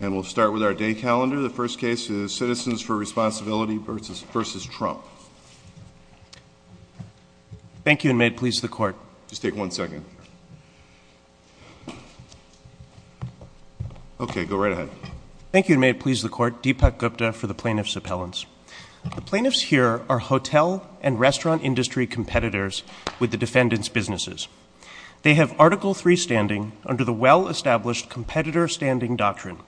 And we'll start with our day calendar. The first case is Citizens for Responsibility versus Trump. Thank you and may it please the court. Just take one second. Okay, go right ahead. Thank you and may it please the court. Deepak Gupta for the Plaintiff's Appellants. The plaintiffs here are hotel and restaurant industry competitors with the defendant's businesses. They have Article 3 standing under the well-established competitor standing doctrine.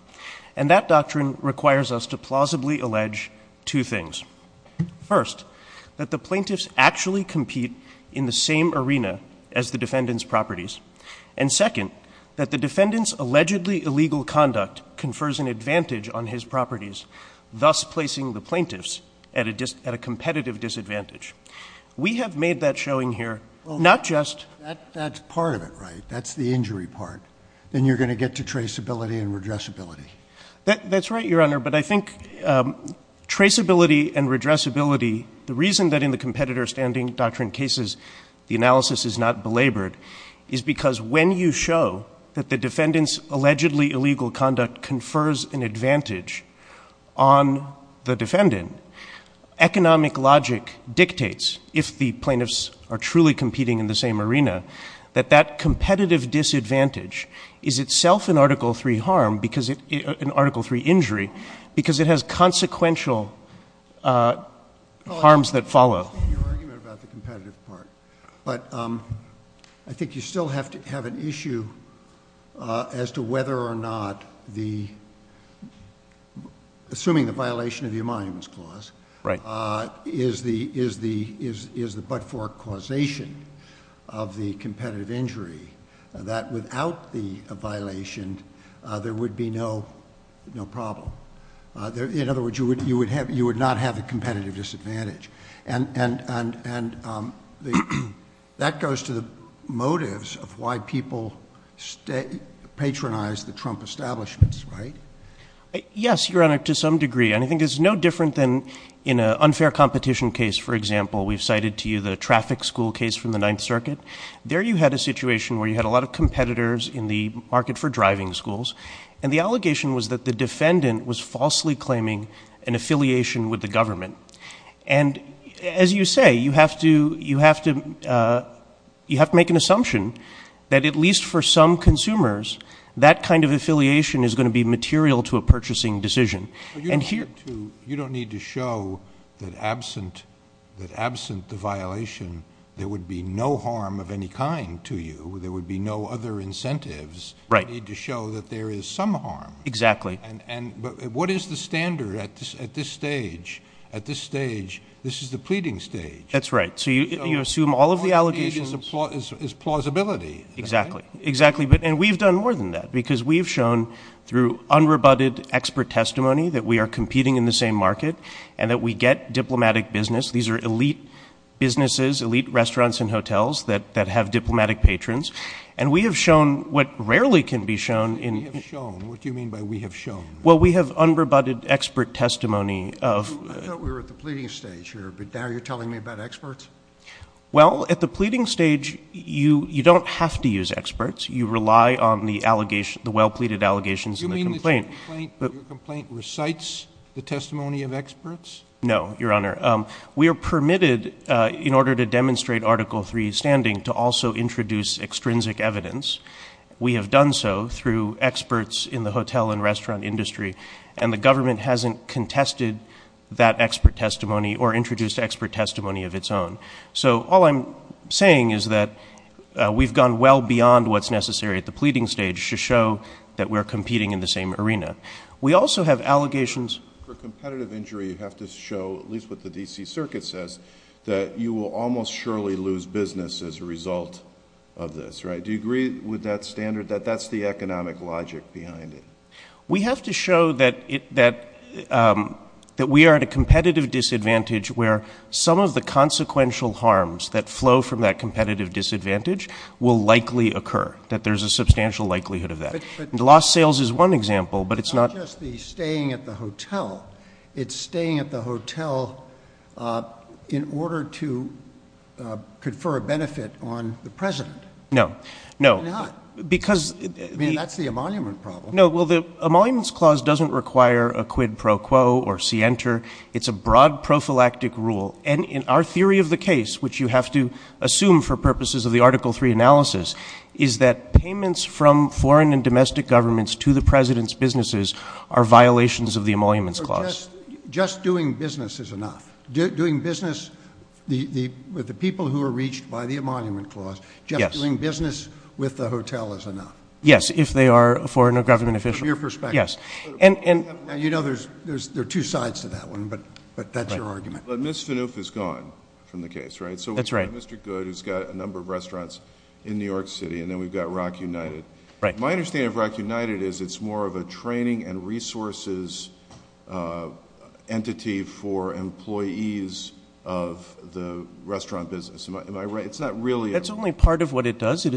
And that doctrine requires us to plausibly allege two things. First, that the plaintiffs actually compete in the same arena as the defendant's properties. And second, that the defendant's allegedly illegal conduct confers an advantage on his properties, thus placing the plaintiffs at a competitive disadvantage. We have made that showing here, not just... That's part of it, right? That's the injury part. Then you're going to get to traceability and redressability. That's right, Your Honor, but I think traceability and redressability, the reason that in the competitor standing doctrine cases, the analysis is not belabored, is because when you show that the defendant's allegedly illegal conduct confers an advantage on the defendant, economic logic dictates, if the plaintiffs are truly competing in the same arena, that that competitive disadvantage is itself an Article 3 harm, an Article 3 injury, because it has consequential harms that follow. Your argument about the competitive part. But I think you still have to have an issue as to whether or not the... Right. ...is the but-for causation of the competitive injury, that without the violation, there would be no problem. In other words, you would not have a competitive disadvantage. And that goes to the motives of why people patronize the Trump establishments, right? Yes, Your Honor, to some degree. And I think it's no different than in an unfair competition case, for example. We've cited to you the traffic school case from the Ninth Circuit. There you had a situation where you had a lot of competitors in the market for driving schools, and the allegation was that the defendant was falsely claiming an affiliation with the government. And as you say, you have to make an assumption that at least for some consumers, that kind of affiliation is going to be material to a purchasing decision. You don't need to show that absent the violation, there would be no harm of any kind to you. There would be no other incentives. Right. You need to show that there is some harm. Exactly. And what is the standard at this stage? At this stage, this is the pleading stage. That's right. So you assume all of the allegations... ...is plausibility, right? Exactly, exactly. And we've done more than that, because we've shown through unrebutted expert testimony, that we are competing in the same market, and that we get diplomatic business. These are elite businesses, elite restaurants and hotels that have diplomatic patrons. And we have shown what rarely can be shown in... We have shown. What do you mean by we have shown? Well, we have unrebutted expert testimony of... I thought we were at the pleading stage here, but now you're telling me about experts? Well, at the pleading stage, you don't have to use experts. You rely on the allegations, the well-pleaded allegations in the complaint. Your complaint recites the testimony of experts? No, Your Honor. We are permitted, in order to demonstrate Article 3 standing, to also introduce extrinsic evidence. We have done so through experts in the hotel and restaurant industry, and the government hasn't contested that expert testimony or introduced expert testimony of its own. So all I'm saying is that we've gone well beyond what's necessary at the pleading stage to show that we're competing in the same arena. We also have allegations... For competitive injury, you have to show, at least what the D.C. Circuit says, that you will almost surely lose business as a result of this, right? Do you agree with that standard, that that's the economic logic behind it? We have to show that we are at a competitive disadvantage where some of the consequential harms that flow from that competitive disadvantage will likely occur, that there's a substantial likelihood of that. The lost sales is one example, but it's not... It's not just the staying at the hotel. It's staying at the hotel in order to confer a benefit on the President. No, no. Why not? Because... I mean, that's the emolument problem. No, well, the emoluments clause doesn't require a quid pro quo or sienter. It's a broad prophylactic rule, and in our theory of the case, which you have to assume for purposes of the Article 3 analysis, is that payments from foreign and domestic governments to the President's businesses are violations of the emoluments clause. Just doing business is enough. Doing business with the people who are reached by the emolument clause, just doing business with the hotel is enough. Yes, if they are a foreign or government official. From your perspective. Yes, and... Now, you know there are two sides to that one, but that's your argument. But Ms. Finouf is gone from the case, right? That's right. Mr. Goode, who's got a number of restaurants in New York City, and then we've got Rock United. My understanding of Rock United is it's more of a training and resources entity for employees of the restaurant business. Am I right? It's not really... That's only part of what it does. How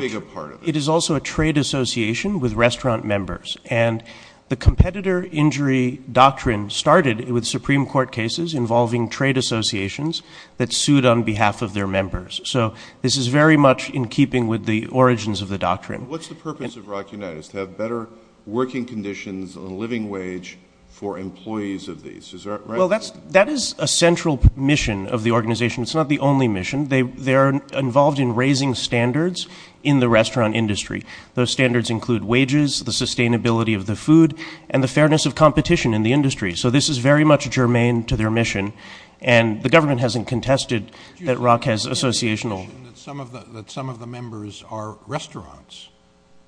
big a part of it? It is also a trade association with restaurant members, and the competitor injury doctrine started with Supreme Court cases involving trade associations that sued on behalf of their members. So this is very much in keeping with the origins of the doctrine. What's the purpose of Rock United? It's to have better working conditions on living wage for employees of these. Is that right? Well, that is a central mission of the organization. It's not the only mission. They are involved in raising standards in the restaurant industry. Those standards include wages, the sustainability of the food, and the fairness of competition in the industry. So this is very much germane to their mission, and the government hasn't contested that Rock has associational... Some of the members are restaurants,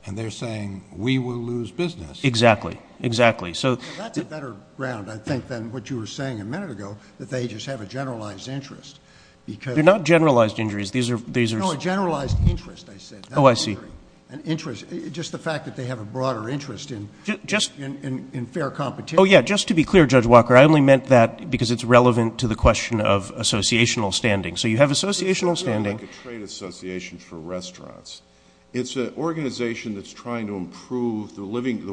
and they're saying, we will lose business. Exactly, exactly. So... That's a better ground, I think, than what you were saying a minute ago, that they just have a generalized interest because... They're not generalized injuries. These are... No, a generalized interest, I said. Oh, I see. An interest, just the fact that they have a broader interest in fair competition. Oh, yeah, just to be clear, Judge Walker, I only meant that because it's relevant to the question of associational standing. So you have associational standing... It's more like a trade association for restaurants. It's an organization that's trying to improve the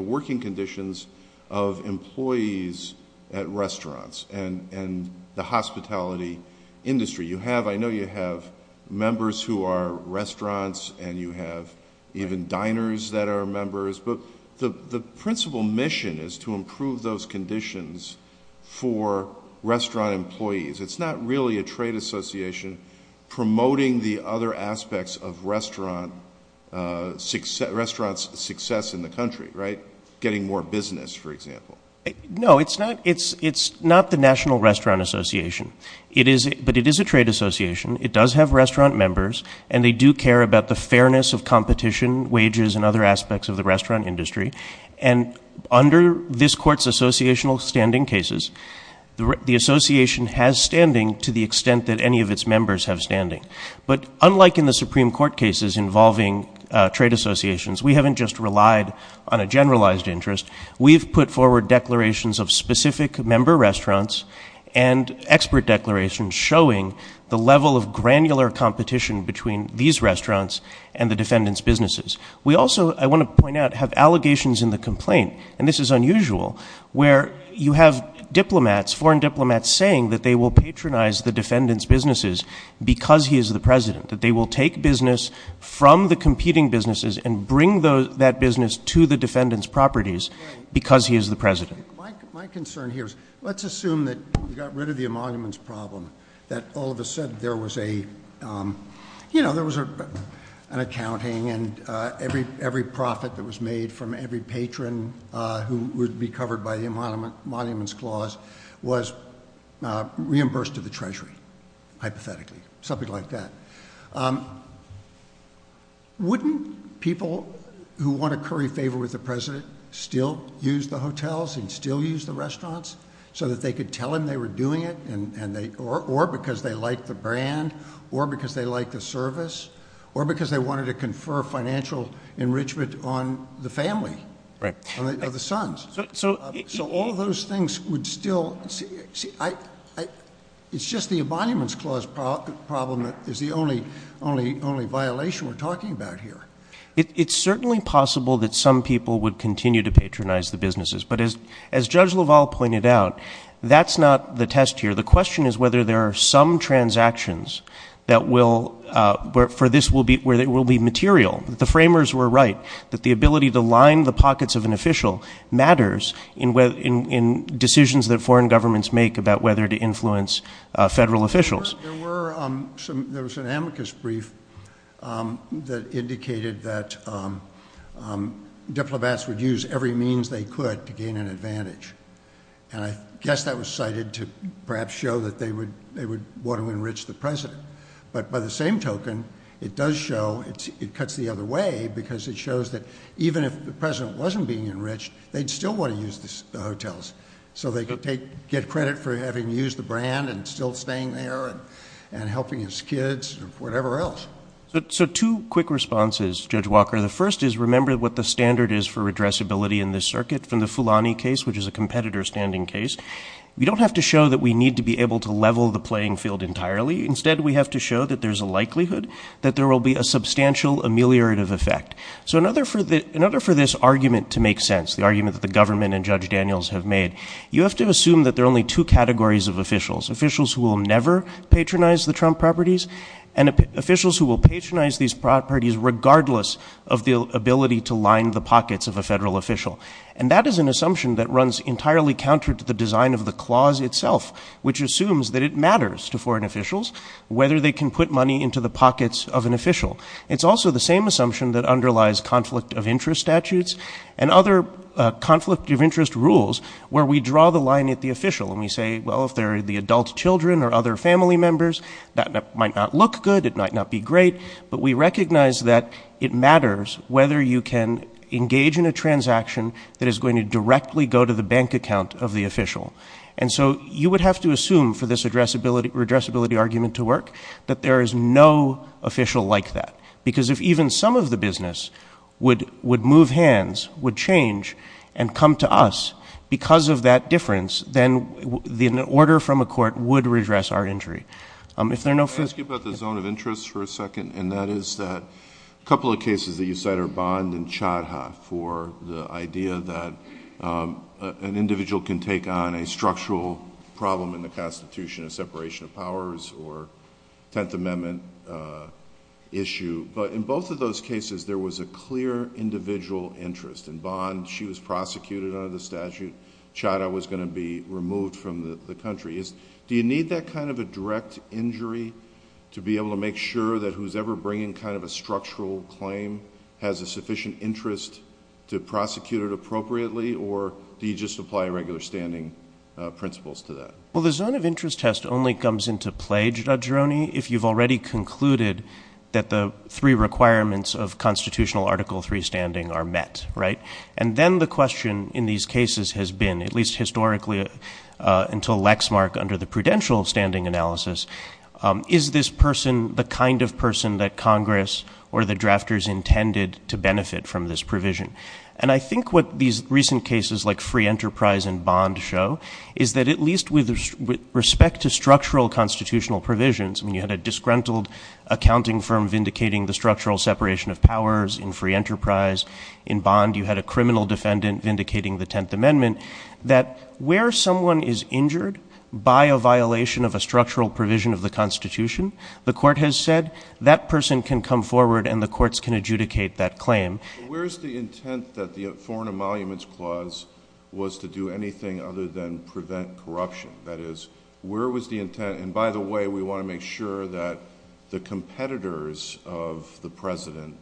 working conditions of employees at restaurants and the hospitality industry. You have, I know you have members who are restaurants, and you have even diners that are members, but the principal mission is to improve those conditions for restaurant employees. It's not really a trade association promoting the other aspects of restaurants' success in the country, right? Getting more business, for example. No, it's not the National Restaurant Association, but it is a trade association. It does have restaurant members, and they do care about the fairness of competition, wages, and other aspects of the restaurant industry. And under this Court's associational standing cases, the association has standing to the extent that any of its members have standing. But unlike in the Supreme Court cases involving trade associations, we haven't just relied on a generalized interest. We've put forward declarations of specific member restaurants and expert declarations showing the level of granular competition between these restaurants and the defendant's businesses. We also, I want to point out, have allegations in the complaint, and this is unusual, where you have diplomats, foreign diplomats, saying that they will patronize the defendant's businesses because he is the president, that they will take business from the competing businesses and bring that business to the defendant's properties because he is the president. My concern here is, let's assume that you got rid of the emoluments problem, that all of a sudden there was a, you know, there was an accounting and every profit that was made from every patron who would be covered by the emoluments clause was reimbursed to the Treasury, hypothetically, something like that. Wouldn't people who want to curry favor with the president still use the hotels and still use the restaurants so that they could tell him they were doing it and they, or because they like the brand, or because they like the service, or because they wanted to confer financial enrichment on the family of the sons? So all those things would still, see, I, it's just the emoluments clause problem that is the only violation we're talking about here. It's certainly possible that some people would continue to patronize the businesses, but as Judge LaValle pointed out, that's not the test here. The question is whether there are some transactions that will, for this will be, where it will be material. The framers were right that the ability to line the pockets of an official matters in decisions that foreign governments make about whether to influence federal officials. There were some, there was an amicus brief that indicated that they would gain an advantage, and I guess that was cited to perhaps show that they would want to enrich the president. But by the same token, it does show, it cuts the other way, because it shows that even if the president wasn't being enriched, they'd still want to use the hotels. So they could take, get credit for having used the brand and still staying there and helping his kids or whatever else. So two quick responses, Judge Walker. The first is, remember what the standard is for addressability in this circuit from the Fulani case, which is a competitor standing case. We don't have to show that we need to be able to level the playing field entirely. Instead, we have to show that there's a likelihood that there will be a substantial ameliorative effect. So in order for this argument to make sense, the argument that the government and Judge Daniels have made, you have to assume that there are only two categories of officials. Officials who will never patronize the Trump properties, and officials who will patronize these properties regardless of the ability to line the pockets of a federal official. And that is an assumption that runs entirely counter to the design of the clause itself, which assumes that it matters to foreign officials whether they can put money into the pockets of an official. It's also the same assumption that underlies conflict of interest statutes and other conflict of interest rules where we draw the line at the official and we say, well, if they're the adult children or other family members, that might not look good, it might not be great, but we recognize that it matters whether you can engage in a transaction that is going to directly go to the bank account of the official. And so you would have to assume for this addressability argument to work that there is no official like that. Because if even some of the business would move hands, would change, and come to us because of that difference, then an order from a court would redress our injury. If there are no further... Can I ask you about the zone of interest for a second? And that is that a couple of cases that you cite are Bond and Chadha for the idea that an individual can take on a structural problem in the Constitution, a separation of powers or Tenth Amendment issue. But in both of those cases, there was a clear individual interest. In Bond, she was prosecuted under the statute. Chadha was going to be removed from the country. Do you need that kind of a direct injury to be able to make sure that who is ever bringing kind of a structural claim has a sufficient interest to prosecute it appropriately? Or do you just apply regular standing principles to that? Well, the zone of interest test only comes into play, Judge Roney, if you have already concluded that the three requirements of constitutional Article III standing are met, right? And then the question in these cases has been, at least historically, until Lexmark under the prudential standing analysis, is this person the kind of person that Congress or the drafters intended to benefit from this provision? And I think what these recent cases like Free Enterprise and Bond show is that at least with respect to structural constitutional provisions, I mean, you had a disgruntled accounting firm vindicating the structural separation of powers in Free Enterprise. In Bond, you had a criminal defendant vindicating the Tenth Amendment. That where someone is injured by a violation of a structural provision of the Constitution, the court has said that person can come forward and the courts can adjudicate that claim. Where is the intent that the Foreign Emoluments Clause was to do anything other than prevent corruption? That is, where was the intent? And by the way, we want to make sure that the competitors of the president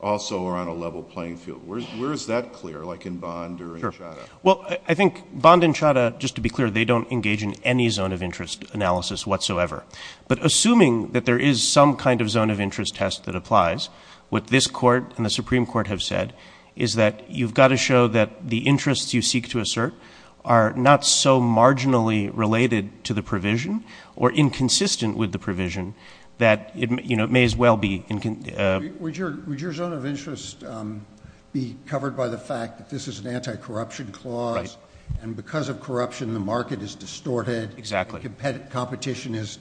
also are on a level playing field. Where is that clear, like in Bond or in Chadha? Well, I think Bond and Chadha, just to be clear, they don't engage in any zone of interest analysis whatsoever. But assuming that there is some kind of zone of interest test that applies, what this court and the Supreme Court have said is that you've got to show that the interests you seek to assert are not so marginally related to the provision or inconsistent with the provision that it may as well be... Would your zone of interest be covered by the fact that this is an anti-corruption clause and because of corruption the market is distorted? Exactly. Competition is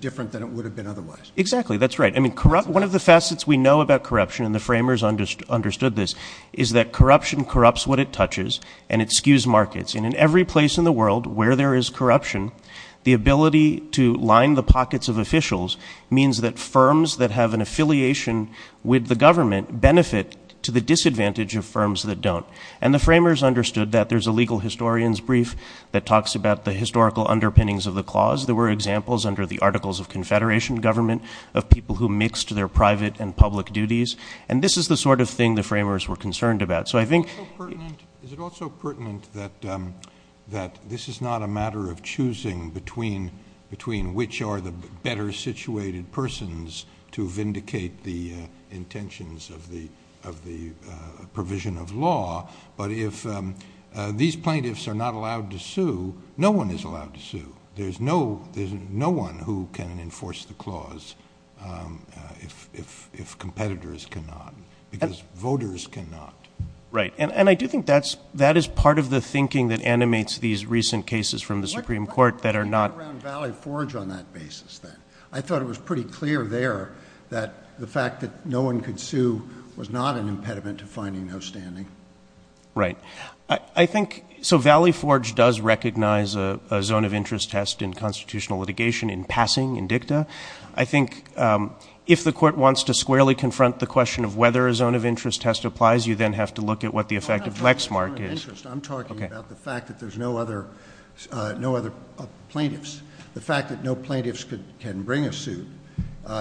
different than it would have been otherwise? Exactly, that's right. I mean, one of the facets we know about corruption, and the framers understood this, is that corruption corrupts what it touches and it skews markets. And in every place in the world where there is corruption, the ability to line the pockets of officials means that firms that have an affiliation with the government benefit to the disadvantage of firms that don't. And the framers understood that there's a legal historian's brief that talks about the historical underpinnings of the clause. There were examples under the Articles of Confederation government of people who mixed their private and public duties. And this is the sort of thing the framers were concerned about. So I think... Is it also pertinent that this is not a matter of choosing between which are the better situated persons to vindicate the intentions of the provision of law? But if these plaintiffs are not allowed to sue, no one is allowed to sue. There's no one who can enforce the clause if competitors cannot, because voters cannot. Right. And I do think that is part of the thinking that animates these recent cases from the Supreme Court that are not... What do you mean around Valley Forge on that basis then? I thought it was pretty clear there that the fact that no one could sue was not an impediment to finding no standing. Right. I think... So Valley Forge does recognize a zone of interest test in constitutional litigation in passing in dicta. I think if the court wants to squarely confront the question of whether a zone of interest test applies, you then have to look at what the effect of Lexmark is. I'm talking about the fact that there's no other plaintiffs. The fact that no plaintiffs can bring a suit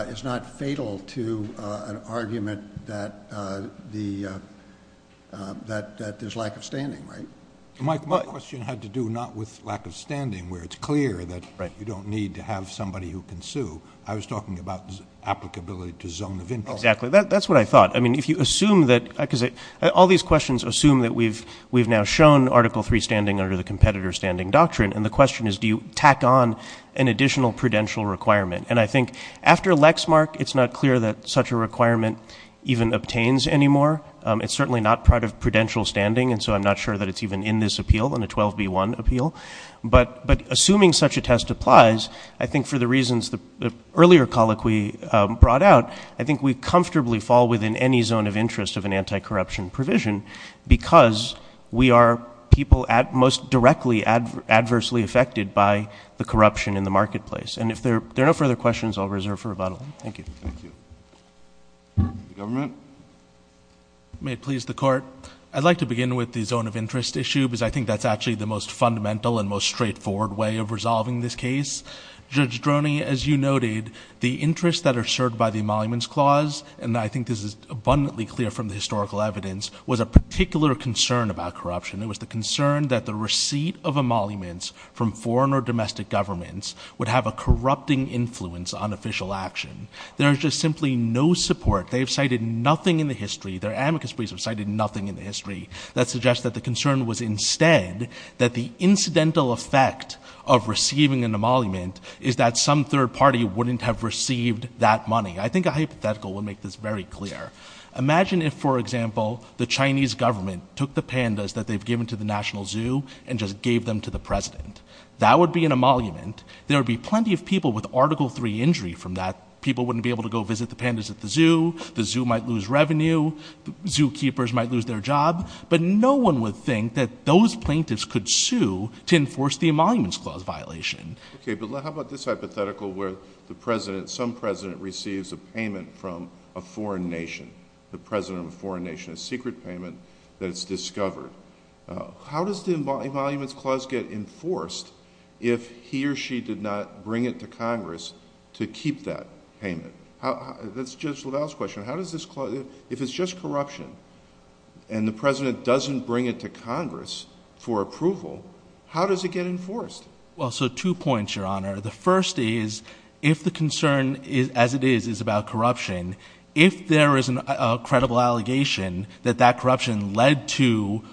is not fatal to an argument that there's lack of standing, right? Mike, my question had to do not with lack of standing, where it's clear that you don't need to have somebody who can sue. I was talking about applicability to zone of interest. Exactly. That's what I thought. I mean, if you assume that... All these questions assume that we've now shown Article III standing under the competitor standing doctrine. And the question is, do you tack on an additional prudential requirement? And I think after Lexmark, it's not clear that such a requirement even obtains anymore. It's certainly not part of prudential standing. And so I'm not sure that it's even in this appeal, in a 12b1 appeal. But assuming such a test applies, I think for the reasons the earlier colloquy brought out, I think we comfortably fall within any zone of interest of an anti-corruption provision because we are people most directly adversely affected by the corruption in the marketplace. And if there are no further questions, I'll reserve for rebuttal. Thank you. Thank you. The government? May it please the Court. I'd like to begin with the zone of interest issue because I think that's actually the most fundamental and most straightforward way of resolving this case. Judge Droney, as you noted, the interests that are served by the Emoluments Clause, and I think this is abundantly clear from the historical evidence, was a particular concern about corruption. It was the concern that the receipt of emoluments from foreign or domestic governments would have a corrupting influence on official action. There is just simply no support. They've cited nothing in the history. Their amicus briefs have cited nothing in the history that suggests that the concern was instead that the incidental effect of receiving an emolument is that some third party wouldn't have received that money. I think a hypothetical would make this very clear. Imagine if, for example, the Chinese government took the pandas that they've given to the National Zoo and just gave them to the president. That would be an emolument. There would be plenty of people with Article III injury from that. People wouldn't be able to go visit the pandas at the zoo. The zoo might lose revenue. Zookeepers might lose their job. But no one would think that those plaintiffs could sue to enforce the Emoluments Clause violation. Okay, but how about this hypothetical where the president, some president, receives a payment from a foreign nation? The president of a foreign nation. A secret payment that's discovered. How does the Emoluments Clause get enforced if he or she did not bring it to Congress to keep that payment? That's Judge LaValle's question. How does this... If it's just corruption and the president doesn't bring it to Congress for approval, how does it get enforced? Well, so two points, Your Honour. The first is, if the concern, as it is, is about corruption, if there is a credible allegation that that corruption led to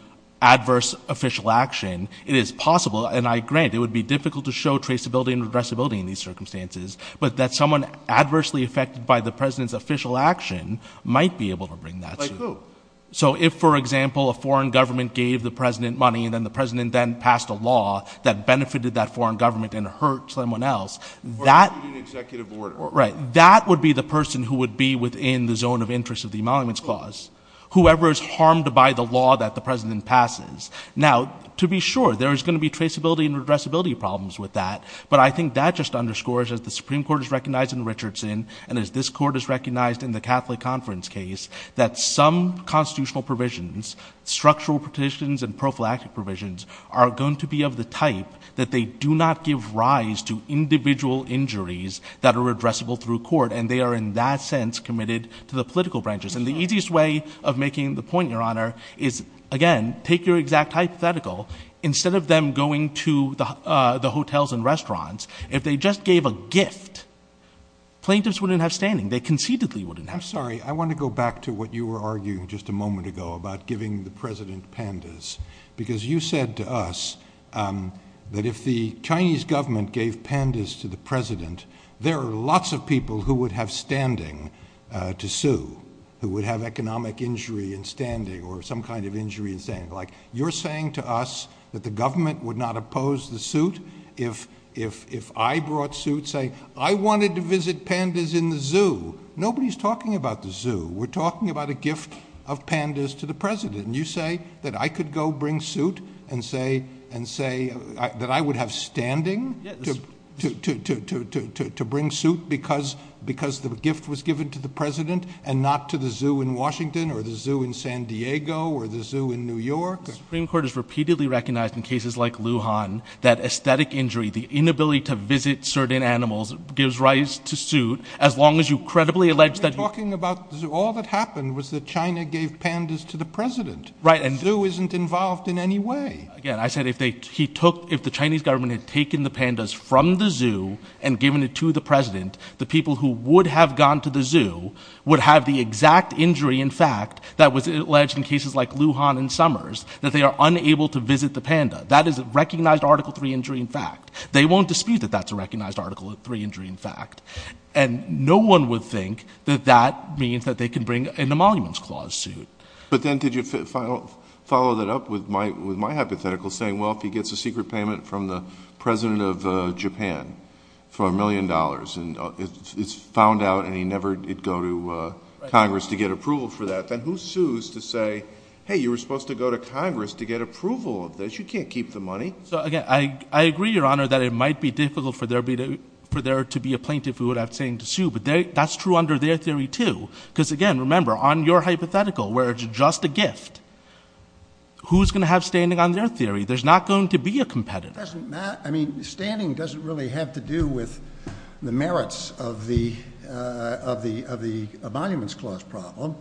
adverse official action, it is possible, and I grant, it would be difficult to show traceability and redressability in these circumstances, but that someone adversely affected by the president's official action might be able to bring that to... Like who? So if, for example, a foreign government gave the president money and then the president then passed a law that benefited that foreign government and hurt someone else, that... Or issued an executive order. Right. That would be the person who would be within the zone of interest of the Emoluments Clause, whoever is harmed by the law that the president passes. Now, to be sure, there is going to be traceability and redressability problems with that, but I think that just underscores, as the Supreme Court has recognized in Richardson and as this Court has recognized in the Catholic Conference case, that some constitutional provisions, structural provisions and prophylactic provisions, are going to be of the type that they do not give rise to individual injuries that are redressable through court, and they are, in that sense, committed to the political branches. And the easiest way of making the point, Your Honor, is, again, take your exact hypothetical. Instead of them going to the hotels and restaurants, if they just gave a gift, plaintiffs wouldn't have standing. They conceitedly wouldn't have standing. I'm sorry. I want to go back to what you were arguing just a moment ago about giving the president pandas, because you said to us that if the Chinese government gave pandas to the president, there are lots of people who would have standing to sue, who would have economic injury in standing or some kind of injury in standing. Like, you're saying to us that the government would not oppose the suit if I brought suits saying, I wanted to visit pandas in the zoo. Nobody's talking about the zoo. We're talking about a gift of pandas to the president. And you say that I could go bring suit and say that I would have standing to bring suit because the gift was given to the president and not to the zoo in Washington or the zoo in San Diego or the zoo in New York. The Supreme Court has repeatedly recognized in cases like Luhan that aesthetic injury, the inability to visit certain animals, gives rise to suit, as long as you credibly allege that... We're talking about the zoo. All that happened was that China gave pandas to the president. Right. The zoo isn't involved in any way. Again, I said if the Chinese government had taken the pandas from the zoo and given it to the president, the people who would have gone to the zoo would have the exact injury, in fact, that was alleged in cases like Luhan and Summers, that they are unable to visit the panda. That is a recognized Article 3 injury, in fact. They won't dispute that that's a recognized Article 3 injury, in fact. And no one would think that that means that they can bring in the Monuments Clause suit. But then did you follow that up with my hypothetical, saying, well, if he gets a secret payment from the president of Japan for a million dollars, and it's found out, and he never did go to Congress to get approval for that, then who sues to say, hey, you were supposed to go to Congress to get approval of this. You can't keep the money. So, again, I agree, Your Honor, that it might be difficult for there to be a plaintiff who would have to sue, but that's true under their theory, too. Because, again, remember, on your hypothetical, where it's just a gift, who's going to have standing on their theory? There's not going to be a competitor. It doesn't matter. I mean, standing doesn't really have to do with the merits of the Monuments Clause problem.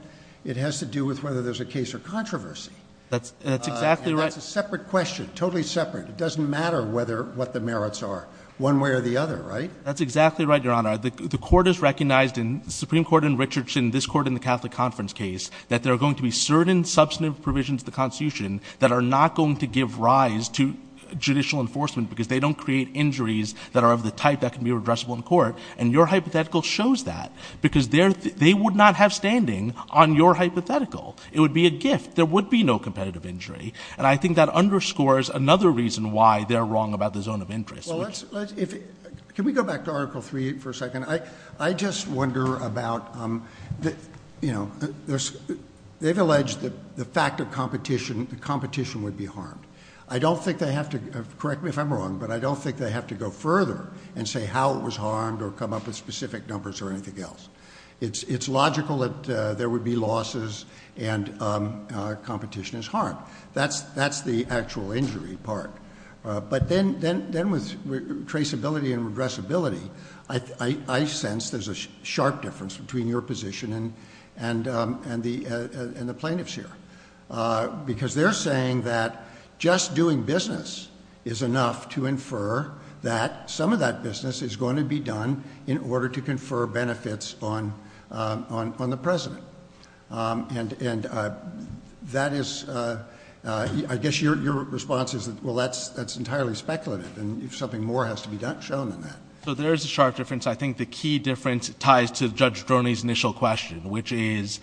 It has to do with whether there's a case or controversy. That's exactly right. And that's a separate question, totally separate. It doesn't matter what the merits are, one way or the other, right? That's exactly right, Your Honor. The Supreme Court in this court in the Catholic Conference case that there are going to be certain substantive provisions of the Constitution that are not going to give rise to judicial enforcement because they don't create injuries that are of the type that can be redressable in court. And your hypothetical shows that because they would not have standing on your hypothetical. It would be a gift. There would be no competitive injury. And I think that underscores another reason why they're wrong about the zone of interest. Well, let's, if, can we go back to Article 3 for a second? I just wonder about, you know, they've alleged that the fact of competition, the competition would be harmed. I don't think they have to, correct me if I'm wrong, but I don't think they have to go further and say how it was harmed or come up with specific numbers or anything else. It's logical that there would be losses and competition is harmed. That's the actual injury part. But then with traceability and regressability, I sense there's a sharp difference between your position and the plaintiff's here. Because they're saying that just doing business is enough to infer that some of that business is going to be done in order to confer benefits on the president. And that is, I guess your response is, well, that's entirely speculative and something more has to be shown than that. So there is a sharp difference. I think the key difference ties to Judge Droney's initial question, which is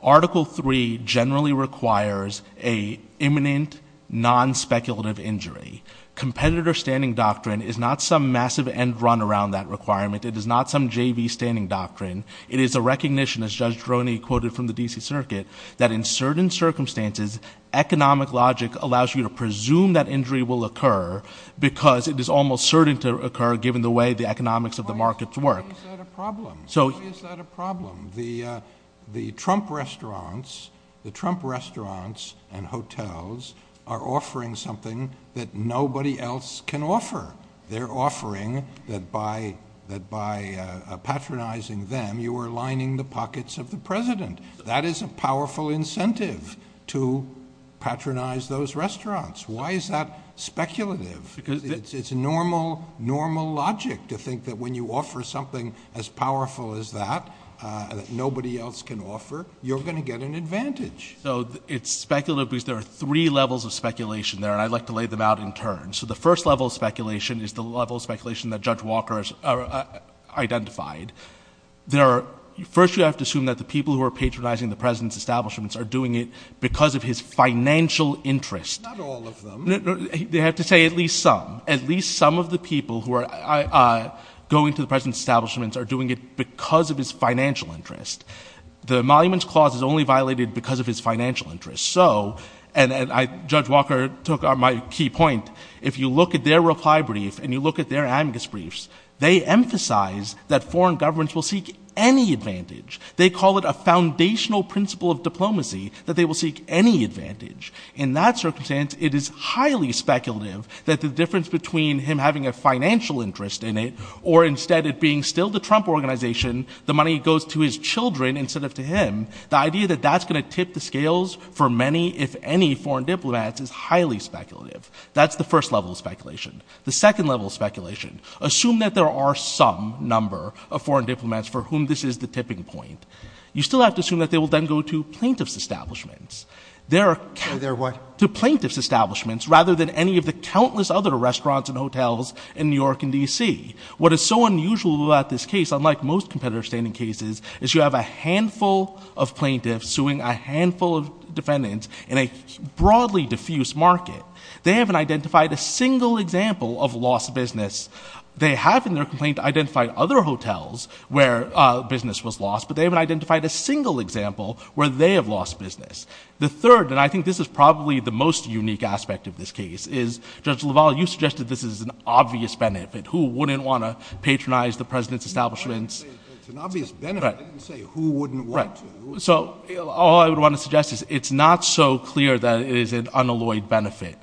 Article III generally requires an imminent, non-speculative injury. Competitor standing doctrine is not some massive end run around that requirement. It is not some JV standing doctrine. It is a recognition, as Judge Droney quoted from the D.C. Circuit, that in certain circumstances, economic logic allows you to presume that injury will occur because it is almost certain to occur given the way the economics of the markets work. Why is that a problem? Why is that a problem? The Trump restaurants and hotels are offering something that nobody else can offer. They're offering that by patronizing them, you are lining the pockets of the president. That is a powerful incentive to patronize those restaurants. Why is that speculative? It's normal logic to think that when you offer something as powerful as that that nobody else can offer, you're going to get an advantage. So it's speculative because there are three levels of speculation there, and I'd like to lay them out in turn. So the first level of speculation is the level of speculation that Judge Walker identified. First, you have to assume that the people who are patronizing the president's establishments are doing it because of his financial interest. Not all of them. They have to say at least some. At least some of the people who are going to the president's establishments are doing it because of his financial interest. The emoluments clause is only violated because of his financial interest. So, and Judge Walker took on my key point, if you look at their reply brief and you look at their amicus briefs, they emphasize that foreign governments will seek any advantage. They call it a foundational principle of diplomacy that they will seek any advantage. In that circumstance, it is highly speculative that the difference between him having a financial interest in it or instead it being still the Trump organization, the money goes to his children instead of to him, the idea that that's going to tip the scales for many, if any, foreign diplomats is highly speculative. That's the first level of speculation. The second level of speculation. Assume that there are some number of foreign diplomats for whom this is the tipping point. You still have to assume that they will then go to plaintiff's establishments. There are, to plaintiff's establishments rather than any of the countless other restaurants and hotels in New York and D.C. What is so unusual about this case, unlike most competitive standing cases, is you have a handful of plaintiffs suing a handful of defendants in a broadly diffuse market. They haven't identified a single example of lost business. They have in their complaint identified other hotels where business was lost, but they haven't identified a single example where they have lost business. The third, and I think this is probably the most unique aspect of this case, is, Judge LaValle, you suggested this is an obvious benefit. Who wouldn't want to patronize the president's establishments? It's an obvious benefit. I didn't say who wouldn't want to. So, all I would want to suggest is it's not so clear that it is an unalloyed benefit.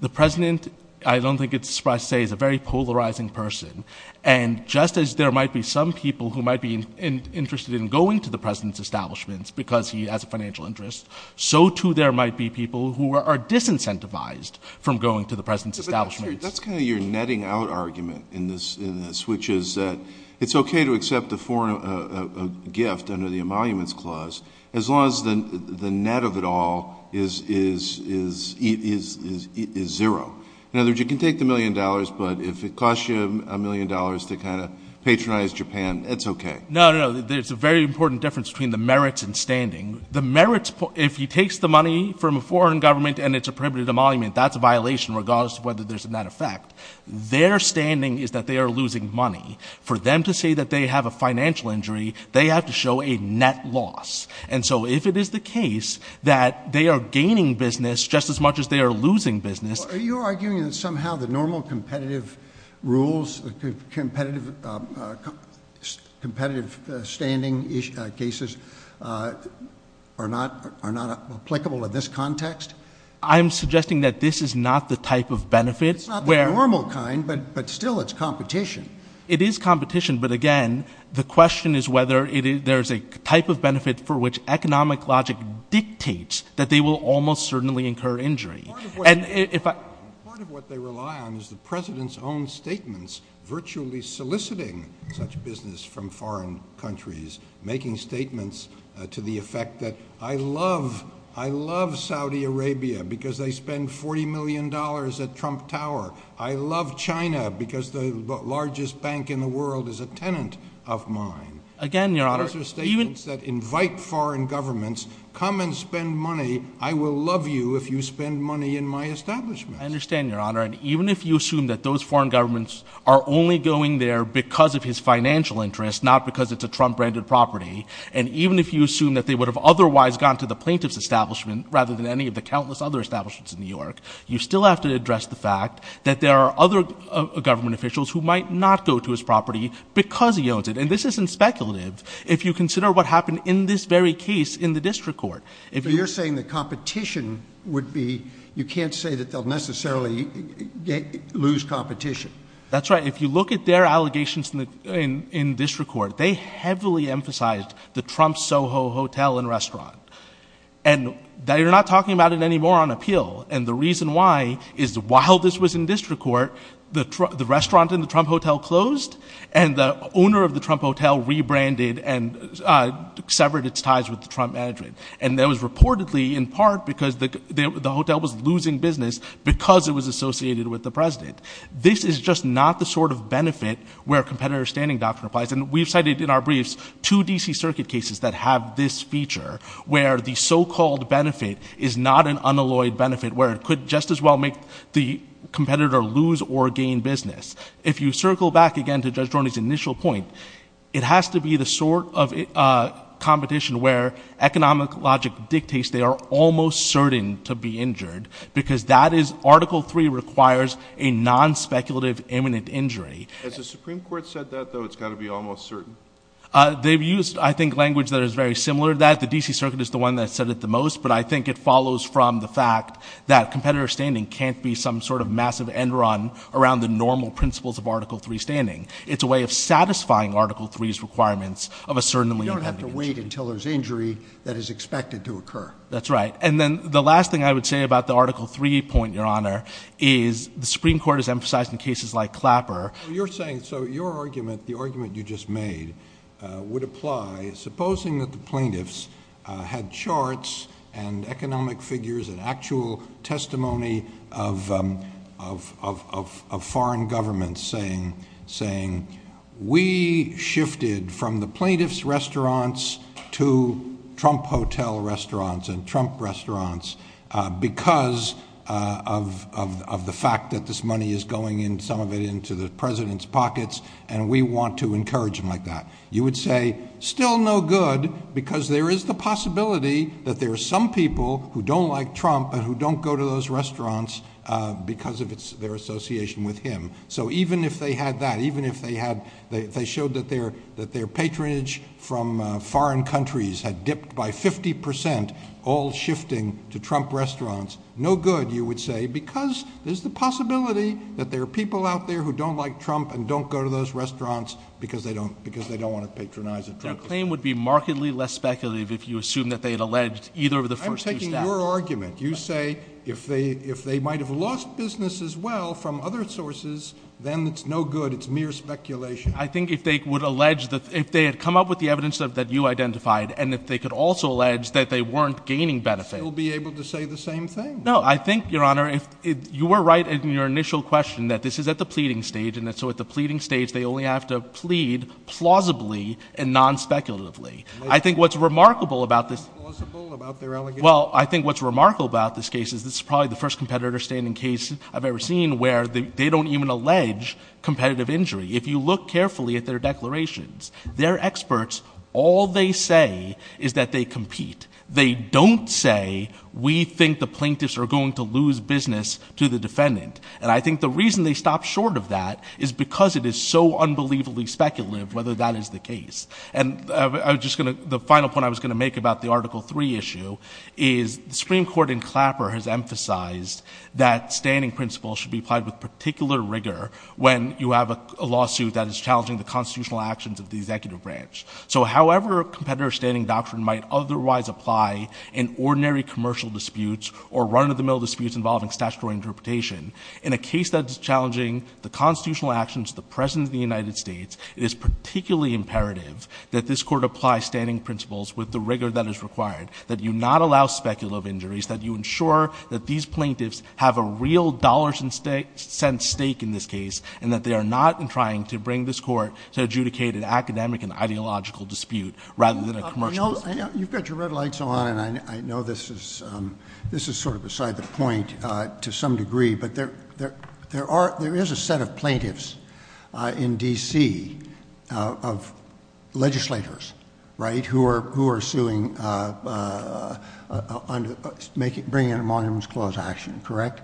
The president, I don't think it's a surprise to say, is a very polarizing person. And just as there might be some people who might be interested in going to the president's establishments because he has a financial interest, so, too, there might be people who are disincentivized from going to the president's establishments. That's kind of your netting out argument in this, which is that it's okay to accept a foreign gift under the Emoluments Clause as long as the net of it all is zero. In other words, you can take the million dollars, but if it costs you a million dollars to kind of patronize Japan, it's okay. No, no, no, there's a very important difference between the merits and standing. The merits, if he takes the money from a foreign government and it's a prohibited emolument, that's a violation regardless of whether there's a net effect. Their standing is that they are losing money. For them to say that they have a financial injury, they have to show a net loss. And so, if it is the case that they are gaining business just as much as they are losing business... Are you arguing that somehow the normal competitive rules, the competitive standing cases are not applicable in this context? I'm suggesting that this is not the type of benefit where... It's not the normal kind, but still it's competition. It is competition, but again, the question is whether there's a type of benefit for which economic logic dictates that they will almost certainly incur injury. Part of what they rely on is the president's own statements virtually soliciting such business from foreign countries, making statements to the effect that, I love Saudi Arabia because they spend $40 million at Trump Tower. I love China because the largest bank in the world is a tenant of mine. Again, Your Honor... Those are statements that invite foreign governments, come and spend money. I will love you if you spend money in my establishment. I understand, Your Honor. And even if you assume that those foreign governments are only going there because of his financial interests, not because it's a Trump-branded property, and even if you assume that they would have otherwise gone to the plaintiff's establishment rather than any of the countless other establishments in New York, you still have to address the fact that there are other government officials who might not go to his property because he owns it. And this isn't speculative if you consider what happened in this very case in the district court. So you're saying the competition would be... You can't say that they'll necessarily lose competition. That's right. If you look at their allegations in district court, they heavily emphasized the Trump Soho Hotel and Restaurant. And they're not talking about it anymore on appeal. And the reason why is while this was in district court, the restaurant in the Trump Hotel closed and the owner of the Trump Hotel rebranded and severed its ties with the Trump management. And that was reportedly in part because the hotel was losing business because it was associated with the president. This is just not the sort of benefit where a competitor standing doctrine applies. And we've cited in our briefs two D.C. Circuit cases that have this feature, where the so-called benefit is not an unalloyed benefit, where it could just as well make the competitor lose or gain business. If you circle back again to Judge Dorney's initial point, it has to be the sort of competition where economic logic dictates they are almost certain to be injured because that is Article 3 requires a non-speculative imminent injury. Has the Supreme Court said that, though, it's got to be almost certain? They've used, I think, language that is very similar to that. The D.C. Circuit is the one that said it the most. But I think it follows from the fact that competitor standing can't be some sort of massive end run around the normal principles of Article 3 standing. It's a way of satisfying Article 3's requirements of a certainly imminent injury. You have to wait until there's injury that is expected to occur. That's right. And then the last thing I would say about the Article 3 point, Your Honour, is the Supreme Court has emphasised in cases like Clapper... So you're saying... So your argument, the argument you just made, would apply, supposing that the plaintiffs had charts and economic figures and actual testimony of foreign governments saying, we shifted from the plaintiffs' restaurants to Trump Hotel restaurants and Trump restaurants because of the fact that this money is going in, some of it into the president's pockets, and we want to encourage him like that. You would say, still no good, because there is the possibility that there are some people who don't like Trump and who don't go to those restaurants because of their association with him. So even if they had that, even if they had... They showed that their patronage from foreign countries had dipped by 50%, all shifting to Trump restaurants, no good, you would say, because there's the possibility that there are people out there who don't like Trump and don't go to those restaurants because they don't want to patronise at Trump. Their claim would be markedly less speculative if you assume that they had alleged either of the first two... I'm taking your argument. You say if they might have lost business as well from other sources, then it's no good. It's mere speculation. I think if they would allege... If they had come up with the evidence that you identified and if they could also allege that they weren't gaining benefit... You'll be able to say the same thing. No, I think, Your Honour, if you were right in your initial question that this is at the pleading stage, and so at the pleading stage, they only have to plead plausibly and non-speculatively. I think what's remarkable about this... Not plausible about their allegation? Well, I think what's remarkable about this case is this is probably the first competitor-standing case I've ever seen where they don't even allege competitive injury. If you look carefully at their declarations, their experts, all they say is that they compete. They don't say, we think the plaintiffs are going to lose business to the defendant. And I think the reason they stop short of that is because it is so unbelievably speculative whether that is the case. And the final point I was going to make about the Article 3 issue is Supreme Court in Clapper has emphasised that standing principles should be applied with particular rigour when you have a lawsuit that is challenging the constitutional actions of the executive branch. So however a competitor-standing doctrine might otherwise apply in ordinary commercial disputes or run-of-the-mill disputes involving statutory interpretation, in a case that's challenging the constitutional actions of the President of the United States, it is particularly imperative that this Court apply standing principles with the rigour that is required, that you not allow speculative injuries, that you ensure that these plaintiffs have a real dollars and cents stake in this case and that they are not trying to bring this Court to adjudicate an academic and ideological dispute rather than a commercial dispute. You've got your red lights on and I know this is sort of beside the point to some degree, who are suing, bringing in a Monuments Clause action, correct?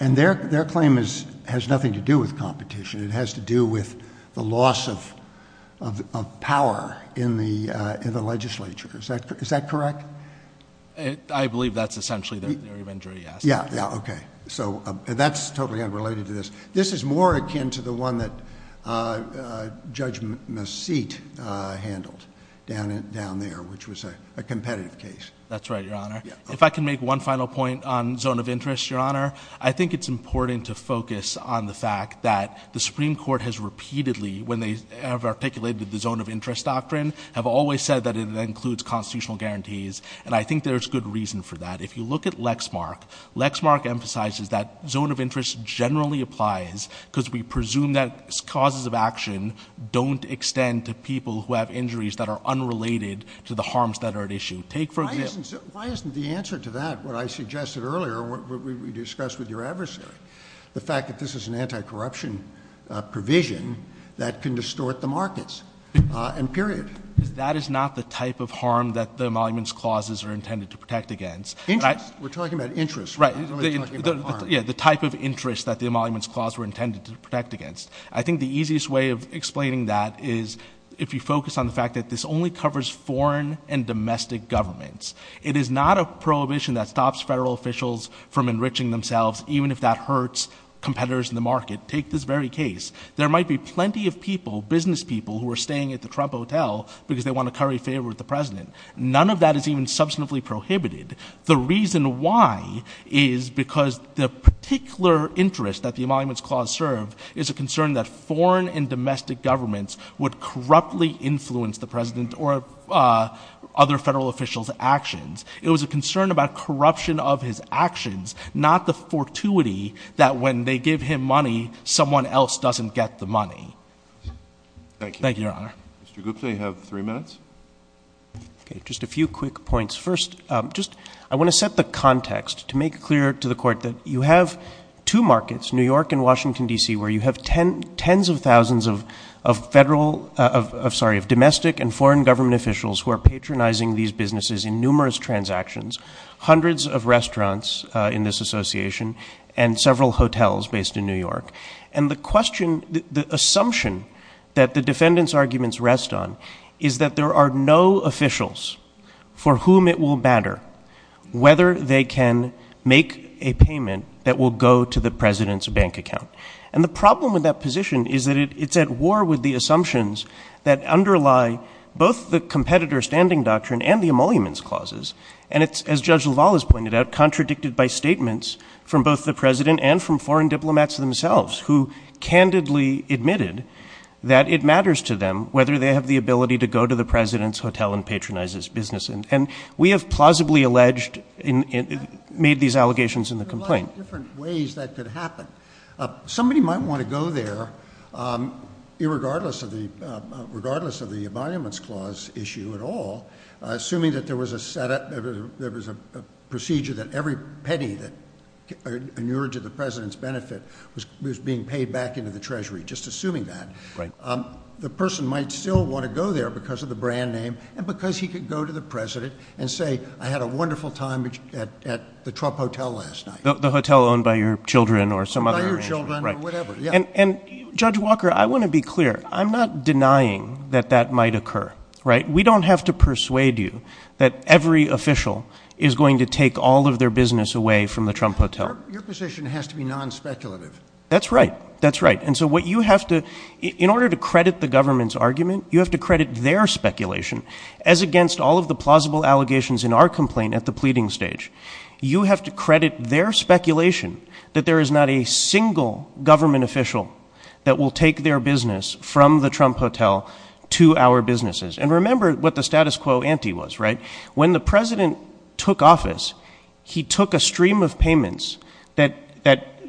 And their claim has nothing to do with competition. It has to do with the loss of power in the legislature. Is that correct? I believe that's essentially their injury, yes. Yeah, yeah, okay. So that's totally unrelated to this. This is more akin to the one that Judge Masseet handled down there, which was a competitive case. That's right, Your Honor. If I can make one final point on zone of interest, Your Honor, I think it's important to focus on the fact that the Supreme Court has repeatedly, when they have articulated the zone of interest doctrine, have always said that it includes constitutional guarantees and I think there's good reason for that. If you look at Lexmark, Lexmark emphasizes that zone of interest generally applies because we presume that causes of action don't extend to people who have injuries that are unrelated to the harms that are at issue. Take for example- Why isn't the answer to that what I suggested earlier, what we discussed with your adversary, the fact that this is an anti-corruption provision that can distort the markets? And period. That is not the type of harm that the Emoluments Clauses are intended to protect against. Interest, we're talking about interest. Right. Yeah, the type of interest that the Emoluments Clause were intended to protect against. I think the easiest way of explaining that is if you focus on the fact that this only covers foreign and domestic governments. It is not a prohibition that stops federal officials from enriching themselves, even if that hurts competitors in the market. Take this very case. There might be plenty of people, business people, who are staying at the Trump Hotel because they want to curry favor with the President. None of that is even substantively prohibited. The reason why is because the particular interest that the Emoluments Clause serve is a concern that foreign and domestic governments would corruptly influence the President or other federal officials' actions. It was a concern about corruption of his actions, not the fortuity that when they give him money, someone else doesn't get the money. Thank you. Thank you, Your Honor. Mr. Gupta, you have three minutes. Okay, just a few quick points. First, I want to set the context to make clear to the Court that you have two markets, New York and Washington, D.C., where you have tens of thousands of domestic and foreign government officials who are patronizing these businesses in numerous transactions, hundreds of restaurants in this association, and several hotels based in New York. And the assumption that the defendant's arguments rest on is that there are no officials for whom it will matter whether they can make a payment that will go to the President's bank account. And the problem with that position is that it's at war with the assumptions that underlie both the Competitor Standing Doctrine and the Emoluments Clauses. And it's, as Judge LaValle has pointed out, contradicted by statements from both the President and from foreign diplomats themselves who candidly admitted that it matters to them whether they have the ability to go to the President's hotel and patronize his business. And we have plausibly alleged, made these allegations in the complaint. There are a lot of different ways that could happen. Somebody might want to go there, regardless of the Emoluments Clause issue at all, assuming that there was a procedure that every penny that inured to the President's benefit was being paid back into the Treasury, just assuming that. The person might still want to go there because of the brand name and because he could go to the President and say, I had a wonderful time at the Trump Hotel last night. The hotel owned by your children or some other arrangement. By your children or whatever, yeah. And Judge Walker, I want to be clear. I'm not denying that that might occur, right? We don't have to persuade you that every official is going to take all of their business away from the Trump Hotel. Your position has to be non-speculative. That's right, that's right. And so what you have to, in order to credit the government's argument, you have to credit their speculation. As against all of the plausible allegations in our complaint at the pleading stage, you have to credit their speculation that there is not a single government official that will take their business from the Trump Hotel to our businesses. And remember what the status quo ante was, right? When the President took office, he took a stream of payments that,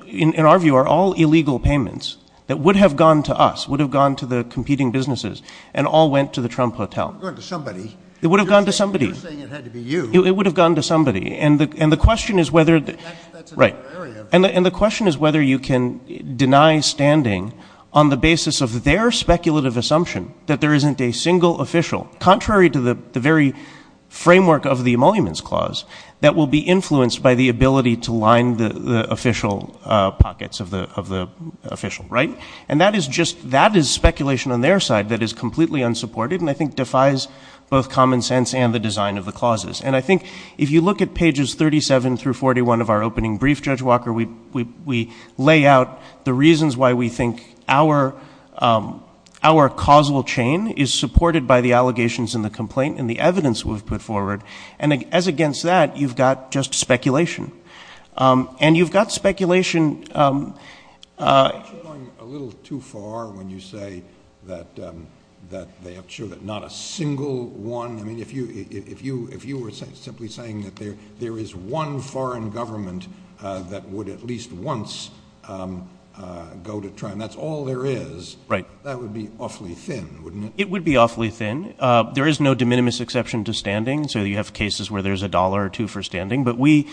in our view, are all illegal payments that would have gone to us, would have gone to the competing businesses, and all went to the Trump Hotel. It would have gone to somebody. It would have gone to somebody. You're saying it had to be you. It would have gone to somebody. And the question is whether... That's another area. And the question is whether you can deny standing on the basis of their speculative assumption that there isn't a single official, contrary to the very framework of the Emoluments Clause, that will be influenced by the ability to line the official pockets of the official, right? And that is just, that is speculation on their side that is completely unsupported, and I think defies both common sense and the design of the clauses. And I think if you look at pages 37 through 41 of our opening brief, Judge Walker, we lay out the reasons why we think our causal chain is supported by the allegations in the complaint and the evidence we've put forward. And as against that, you've got just speculation. And you've got speculation... Aren't you going a little too far when you say that they have ensured that not a single one... I mean, if you were simply saying that there is one foreign government that would at least once go to trial, and that's all there is, that would be awfully thin, wouldn't it? It would be awfully thin. There is no de minimis exception to standing, so you have cases where there's a dollar or two for standing. But we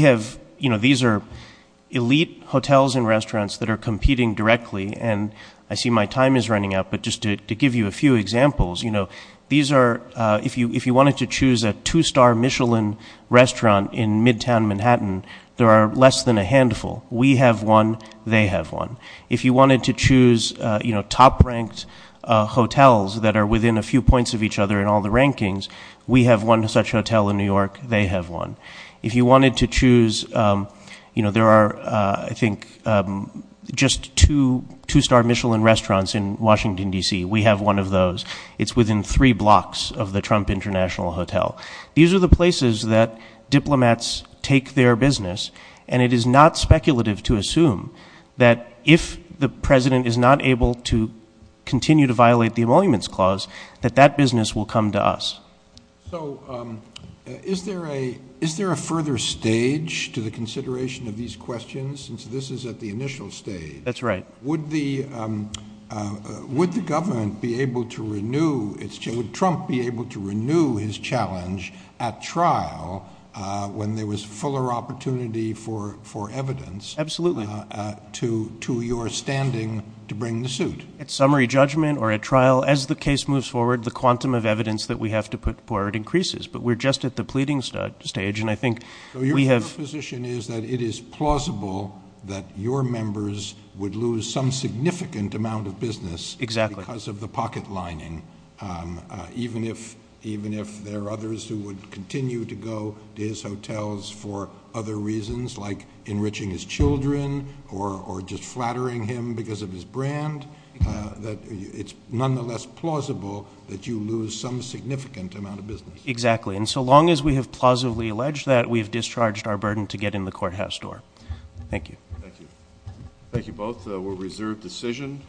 have... You know, these are elite hotels and restaurants that are competing directly. And I see my time is running out, but just to give you a few examples, you know, these are... If you wanted to choose a two-star Michelin restaurant in midtown Manhattan, there are less than a handful. We have one. They have one. If you wanted to choose, you know, top-ranked hotels that are within a few points of each other in all the rankings, we have one such hotel in New York. They have one. If you wanted to choose... You know, there are, I think, just two two-star Michelin restaurants in Washington, D.C. We have one of those. It's within three blocks of the Trump International Hotel. These are the places that diplomats take their business, and it is not speculative to assume that if the president is not able to continue to violate the Emoluments Clause, that that business will come to us. So is there a... stage to the consideration of these questions, since this is at the initial stage? That's right. Would the... Would the government be able to renew its... Would Trump be able to renew his challenge at trial when there was fuller opportunity for evidence... Absolutely. ...to your standing to bring the suit? At summary judgment or at trial, as the case moves forward, the quantum of evidence that we have to put forward increases, but we're just at the pleading stage, and I think we have... So your position is that it is plausible that your members would lose some significant amount of business... Exactly. ...because of the pocket lining, even if there are others who would continue to go to his hotels for other reasons like enriching his children or just flattering him because of his brand, that it's nonetheless plausible that you lose some significant amount of business. Exactly. And so long as we have plausibly alleged that, we have discharged our burden to get in the courthouse door. Thank you. Thank you. Thank you both. We'll reserve decision.